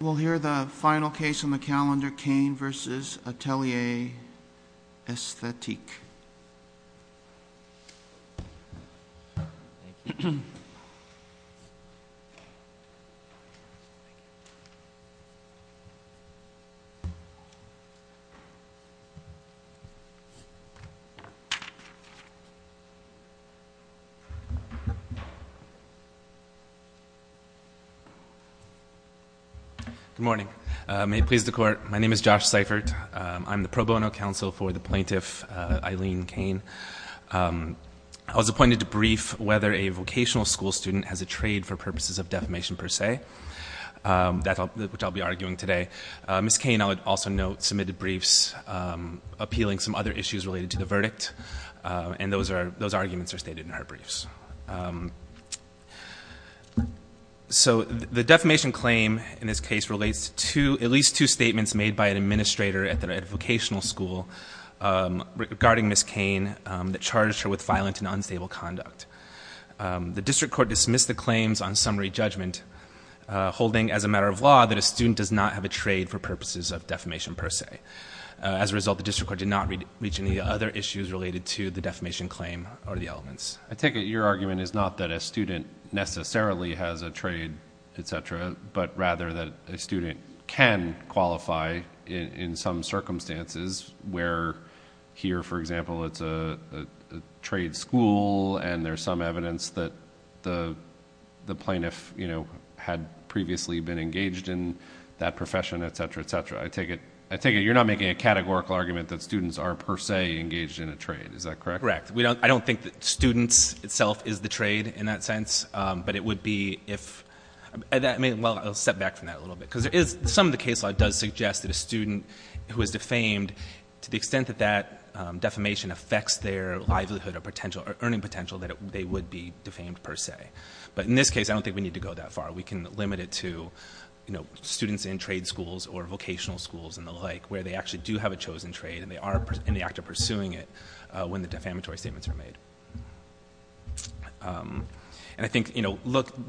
We'll hear the final case on the calendar, Cain v. Atelier Esthetique. Good morning. May it please the Court, my name is Josh Seifert. I'm the pro bono counsel for the plaintiff Eileen Cain. I was appointed to brief whether a vocational school student has a trade for purposes of defamation per se, which I'll be arguing today. Ms. Cain, I would also note, submitted briefs appealing some other issues related to the verdict, and those arguments are stated in her briefs. So the defamation claim in this case relates to at least two statements made by an administrator at the vocational school regarding Ms. Cain that charged her with violent and unstable conduct. The district court dismissed the claims on summary judgment, holding as a matter of law that a student does not have a trade for purposes of defamation per se. As a result, the district court did not reach any other issues related to the defamation claim or the elements. I take it your argument is not that a student necessarily has a trade, etc., but rather that a student can qualify in some circumstances where here, for example, it's a trade school, and there's some evidence that the plaintiff had previously been engaged in that profession, etc., etc. I take it you're not making a categorical argument that students are per se engaged in a trade, is that correct? Correct. I don't think that students itself is the trade in that sense, but it would be if – well, I'll step back from that a little bit because some of the case law does suggest that a student who is defamed, to the extent that that defamation affects their livelihood or earning potential, that they would be defamed per se. But in this case, I don't think we need to go that far. We can limit it to students in trade schools or vocational schools and the like where they actually do have a chosen trade and they are in the act of pursuing it when the defamatory statements are made. And I think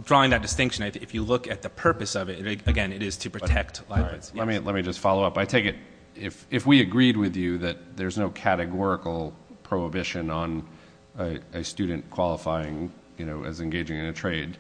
drawing that distinction, if you look at the purpose of it, again, it is to protect livelihoods. Let me just follow up. I take it if we agreed with you that there's no categorical prohibition on a student qualifying as engaging in a trade,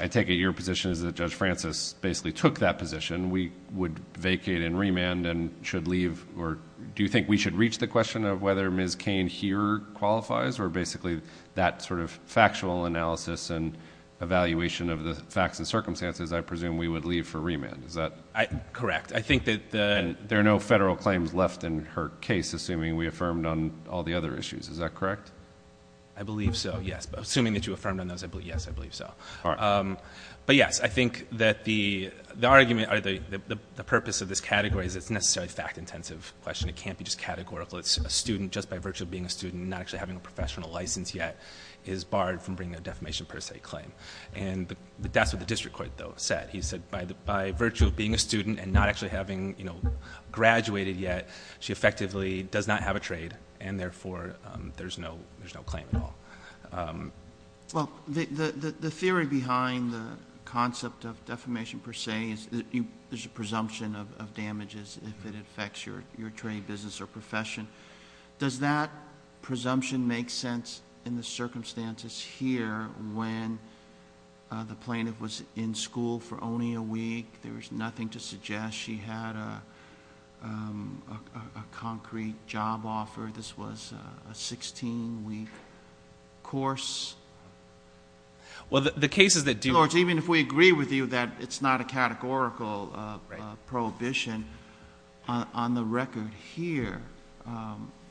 I take it your position is that Judge Francis basically took that position. We would vacate and remand and should leave. Or do you think we should reach the question of whether Ms. Cain here qualifies or basically that sort of factual analysis and evaluation of the facts and circumstances, I presume we would leave for remand. Is that – Correct. I think that there are no federal claims left in her case, assuming we affirmed on all the other issues. Is that correct? I believe so, yes. Assuming that you affirmed on those, yes, I believe so. But, yes, I think that the argument or the purpose of this category is it's necessarily fact-intensive question. It can't be just categorical. It's a student just by virtue of being a student not actually having a professional license yet is barred from bringing a defamation per se claim. And that's what the district court, though, said. He said by virtue of being a student and not actually having graduated yet, she effectively does not have a trade and, therefore, there's no claim at all. Well, the theory behind the concept of defamation per se is there's a presumption of damages if it affects your trade, business, or profession. Does that presumption make sense in the circumstances here when the plaintiff was in school for only a week? There was nothing to suggest she had a concrete job offer. This was a 16-week course. Well, the cases that do... Your Lords, even if we agree with you that it's not a categorical prohibition, on the record here,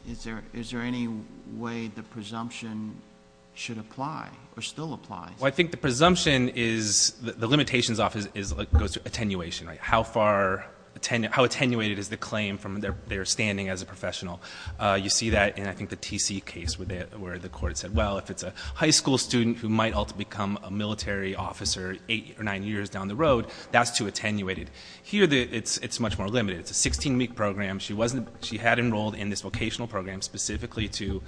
is there any way the presumption should apply or still apply? Well, I think the presumption is the limitations off goes to attenuation, right? How attenuated is the claim from their standing as a professional? You see that in, I think, the TC case where the court said, well, if it's a high school student who might ultimately become a military officer eight or nine years down the road, that's too attenuated. Here, it's much more limited. It's a 16-week program. She had enrolled in this vocational program specifically to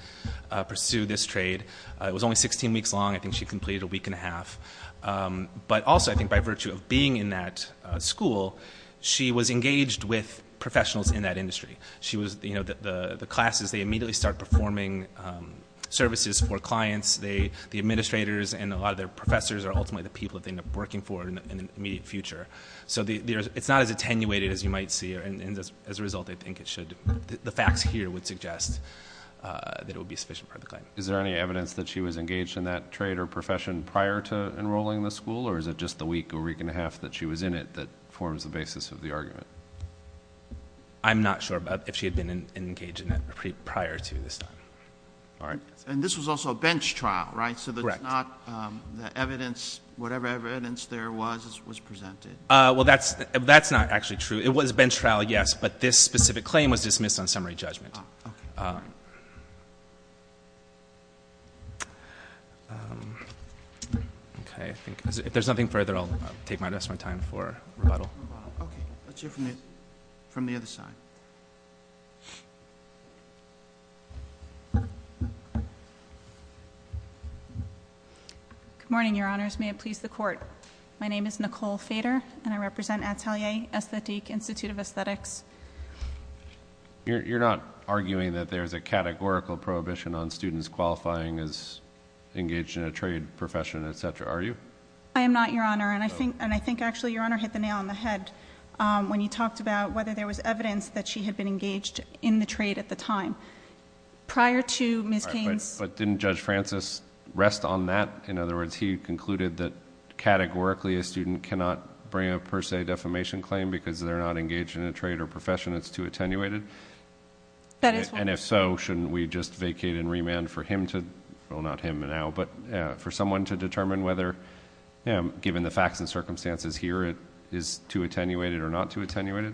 pursue this trade. It was only 16 weeks long. I think she completed a week and a half. But also, I think by virtue of being in that school, she was engaged with professionals in that industry. The classes, they immediately start performing services for clients. The administrators and a lot of their professors are ultimately the people that they end up working for in the immediate future. So it's not as attenuated as you might see, and as a result, I think it should. The facts here would suggest that it would be a sufficient part of the claim. Is there any evidence that she was engaged in that trade or profession prior to enrolling in the school, or is it just the week or week and a half that she was in it that forms the basis of the argument? I'm not sure if she had been engaged in it prior to this time. All right. And this was also a bench trial, right? Correct. So it's not the evidence, whatever evidence there was, was presented? Well, that's not actually true. It was a bench trial, yes, but this specific claim was dismissed on summary judgment. Okay. If there's nothing further, I'll take the rest of my time for rebuttal. Okay. Let's hear from the other side. Good morning, Your Honors. May it please the Court. My name is Nicole Fader, and I represent Atelier Aesthetique Institute of Aesthetics. You're not arguing that there's a categorical prohibition on students qualifying as engaged in a trade profession, et cetera, are you? I am not, Your Honor. And I think actually Your Honor hit the nail on the head when you talked about whether there was evidence that she had been engaged in the trade at the time. Prior to Ms. King's... But didn't Judge Francis rest on that? In other words, he concluded that categorically a student cannot bring a per se defamation claim because they're not engaged in a trade or profession that's too attenuated? That is what... In the facts and circumstances here, it is too attenuated or not too attenuated?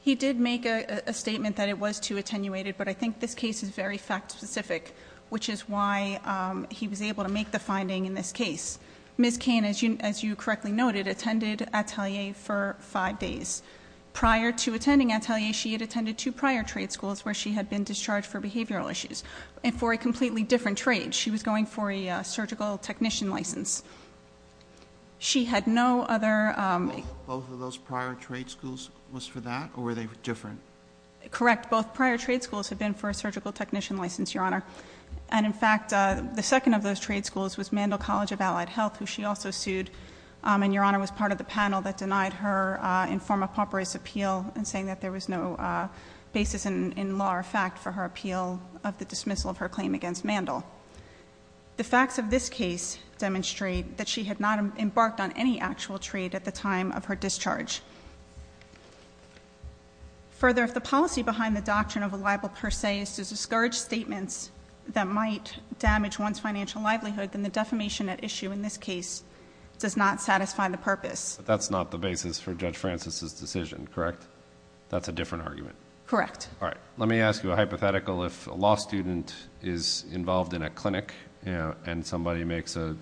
He did make a statement that it was too attenuated, but I think this case is very fact specific, which is why he was able to make the finding in this case. Ms. King, as you correctly noted, attended Atelier for five days. Prior to attending Atelier, she had attended two prior trade schools where she had been discharged for behavioral issues and for a completely different trade. She was going for a surgical technician license. She had no other... Both of those prior trade schools was for that, or were they different? Correct. Both prior trade schools had been for a surgical technician license, Your Honor. And in fact, the second of those trade schools was Mandel College of Allied Health, who she also sued. And Your Honor was part of the panel that denied her in form of papyrus appeal and saying that there was no basis in law or fact for her appeal of the dismissal of her claim against Mandel. The facts of this case demonstrate that she had not embarked on any actual trade at the time of her discharge. Further, if the policy behind the doctrine of a libel per se is to discourage statements that might damage one's financial livelihood, then the defamation at issue in this case does not satisfy the purpose. But that's not the basis for Judge Francis' decision, correct? That's a different argument. Correct. All right. Let me ask you a hypothetical. If a law student is involved in a clinic and somebody makes a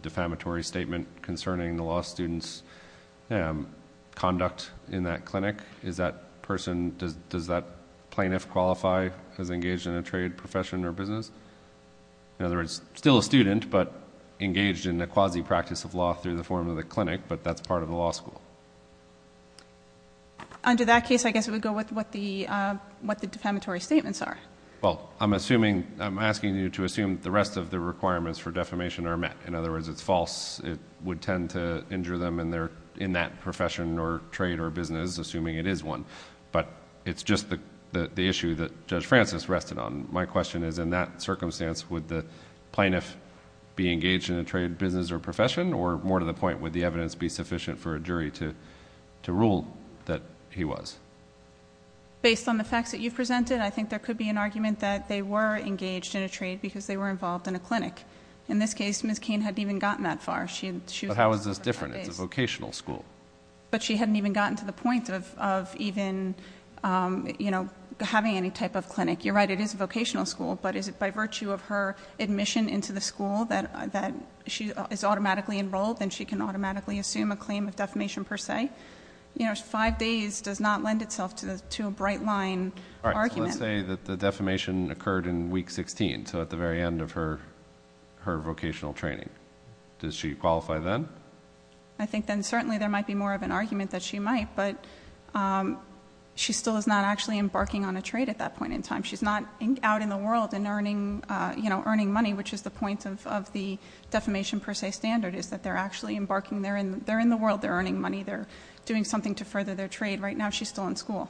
defamatory statement concerning the law student's conduct in that clinic, is that person... Does that plaintiff qualify as engaged in a trade profession or business? In other words, still a student, but engaged in a quasi-practice of law through the form of the clinic, but that's part of the law school. Under that case, I guess it would go with what the defamatory statements are. Well, I'm assuming... I'm asking you to assume the rest of the requirements for defamation are met. In other words, it's false. It would tend to injure them in that profession or trade or business, assuming it is one. But, it's just the issue that Judge Francis rested on. My question is, in that circumstance, would the plaintiff be engaged in a trade, business, or profession? Or, more to the point, would the evidence be sufficient for a jury to rule that he was? Based on the facts that you've presented, I think there could be an argument that they were engaged in a trade, because they were involved in a clinic. In this case, Ms. Cain hadn't even gotten that far. But, how is this different? It's a vocational school. But, she hadn't even gotten to the point of even, you know, having any type of clinic. You're right. It is a vocational school. But, is it by virtue of her admission into the school that she is automatically enrolled and she can automatically assume a claim of defamation per se? You know, five days does not lend itself to a bright line argument. All right. So, let's say that the defamation occurred in week 16. So, at the very end of her vocational training. Does she qualify then? I think then certainly there might be more of an argument that she might. But, she still is not actually embarking on a trade at that point in time. She's not out in the world and earning money, which is the point of the defamation per se standard. Is that they're actually embarking. They're in the world. They're earning money. They're doing something to further their trade. Right now, she's still in school.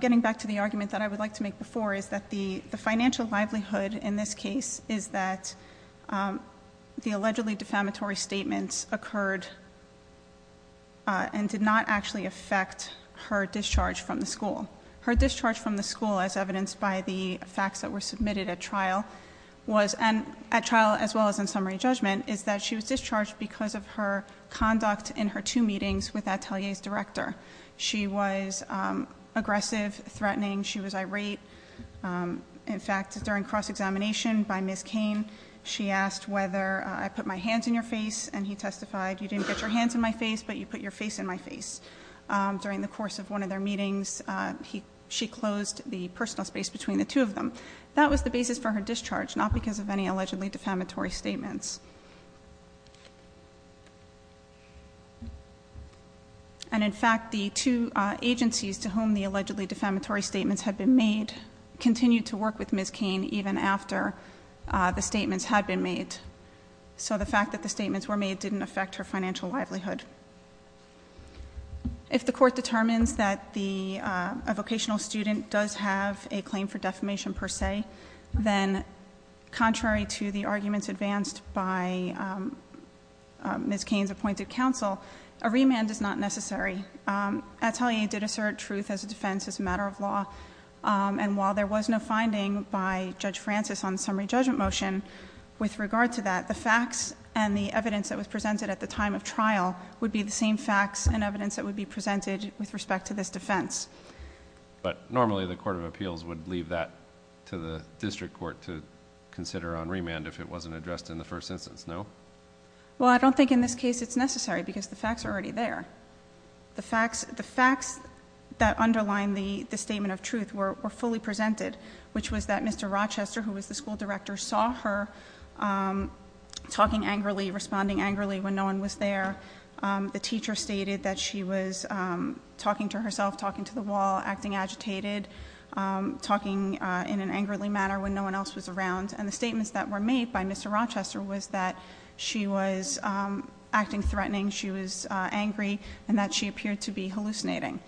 Getting back to the argument that I would like to make before is that the financial livelihood in this case is that the allegedly defamatory statements occurred and did not actually affect her discharge from the school. Her discharge from the school, as evidenced by the facts that were submitted at trial, as well as in summary judgment, is that she was discharged because of her conduct in her two meetings with Atelier's director. She was aggressive, threatening. She was irate. In fact, during cross-examination by Ms. Cain, she asked whether I put my hands in your face. And he testified, you didn't get your hands in my face, but you put your face in my face. During the course of one of their meetings, she closed the personal space between the two of them. That was the basis for her discharge, not because of any allegedly defamatory statements. And in fact, the two agencies to whom the allegedly defamatory statements had been made continued to work with Ms. Cain even after the statements had been made. So the fact that the statements were made didn't affect her financial livelihood. If the court determines that a vocational student does have a claim for defamation per se, then contrary to the arguments advanced by Ms. Cain's appointed counsel, a remand is not necessary. Atelier did assert truth as a defense as a matter of law. And while there was no finding by Judge Francis on the summary judgment motion with regard to that, the facts and the evidence that was presented at the time of trial would be the same facts and evidence that would be presented with respect to this defense. But normally the court of appeals would leave that to the district court to consider on remand if it wasn't addressed in the first instance, no? Well, I don't think in this case it's necessary because the facts are already there. The facts that underline the statement of truth were fully presented, which was that Mr. Rochester, who was the school director, saw her talking angrily, responding angrily when no one was there. The teacher stated that she was talking to herself, talking to the wall, acting agitated, talking in an angrily manner when no one else was around. And the statements that were made by Mr. Rochester was that she was acting threatening, she was angry, and that she appeared to be hallucinating.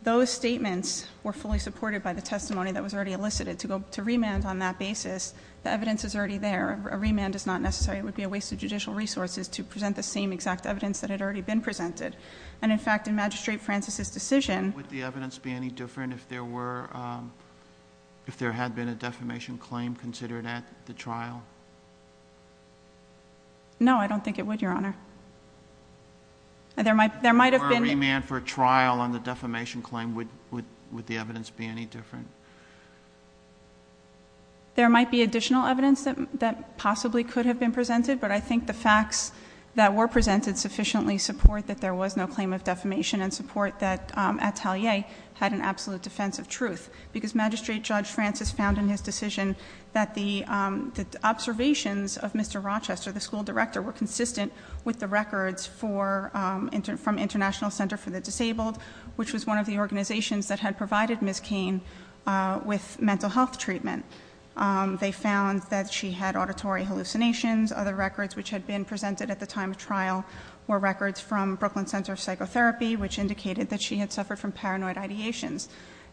Those statements were fully supported by the testimony that was already elicited. To remand on that basis, the evidence is already there. A remand is not necessary. It would be a waste of judicial resources to present the same exact evidence that had already been presented. And, in fact, in Magistrate Francis's decision Would the evidence be any different if there had been a defamation claim considered at the trial? No, I don't think it would, Your Honor. There might have been- Or a remand for trial on the defamation claim. Would the evidence be any different? There might be additional evidence that possibly could have been presented, but I think the facts that were presented sufficiently support that there was no claim of defamation and support that Atelier had an absolute defense of truth. Because Magistrate Judge Francis found in his decision that the observations of Mr. Rochester, the school director, were consistent with the records from International Center for the Disabled, which was one of the organizations that had provided Ms. Cain with mental health treatment. They found that she had auditory hallucinations. Other records which had been presented at the time of trial were records from Brooklyn Center of Psychotherapy, which indicated that she had suffered from paranoid ideations.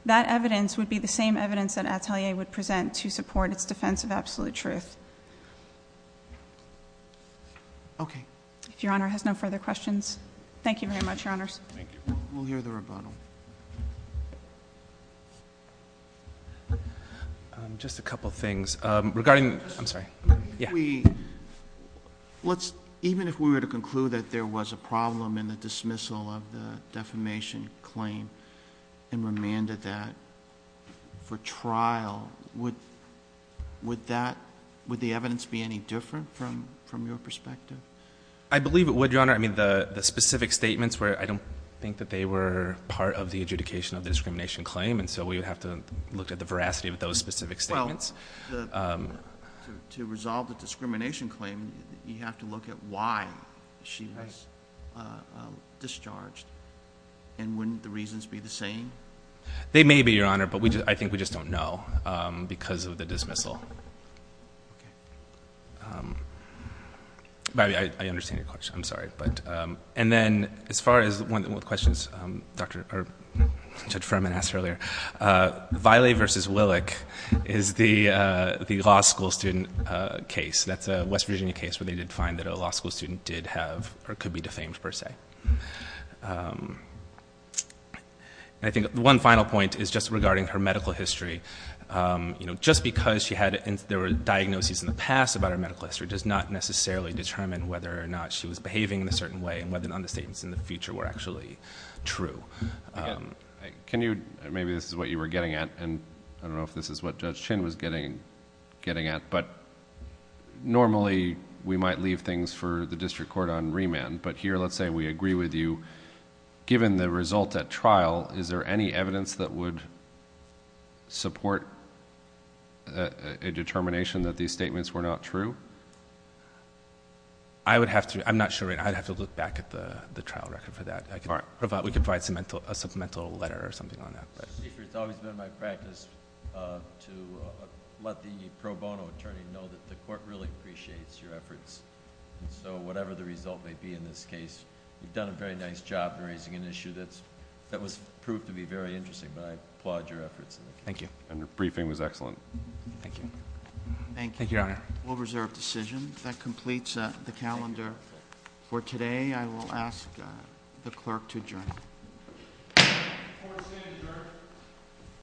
That evidence would be the same evidence that Atelier would present to support its defense of absolute truth. Okay. If Your Honor has no further questions, thank you very much, Your Honors. Thank you. We'll hear the rebuttal. Just a couple things. Regarding- I'm sorry. Yeah. Even if we were to conclude that there was a problem in the dismissal of the defamation claim and remanded that for trial, would that- would the evidence be any different from your perspective? I believe it would, Your Honor. I mean, the specific statements were- I don't think that they were part of the adjudication of the discrimination claim, and so we would have to look at the veracity of those specific statements. Well, to resolve the discrimination claim, you have to look at why she was discharged and wouldn't the reasons be the same? They may be, Your Honor, but I think we just don't know because of the dismissal. I understand your question. I'm sorry. And then, as far as one of the questions Judge Furman asked earlier, Vilae v. Willick is the law school student case. That's a West Virginia case where they did find that a law school student did have or could be defamed per se. I think one final point is just regarding her medical history. Just because she had- there were diagnoses in the past about her medical history does not necessarily determine whether or not she was behaving in a certain way and whether or not the statements in the future were actually true. Can you- maybe this is what you were getting at, and I don't know if this is what Judge Chin was getting at, but normally, we might leave things for the district court on remand, but here, let's say we agree with you, given the result at trial, is there any evidence that would support a determination that these statements were not true? I would have to- I'm not sure. I'd have to look back at the trial record for that. We could provide a supplemental letter or something on that. It's always been my practice to let the pro bono attorney know that the court really appreciates your efforts, and so whatever the result may be in this case, you've done a very nice job in raising an issue that was proved to be very interesting, but I applaud your efforts. Thank you. And your briefing was excellent. Thank you. Thank you, Your Honor. Thank you. We'll reserve decision. That completes the calendar for today. I will ask the clerk to adjourn. Court is adjourned.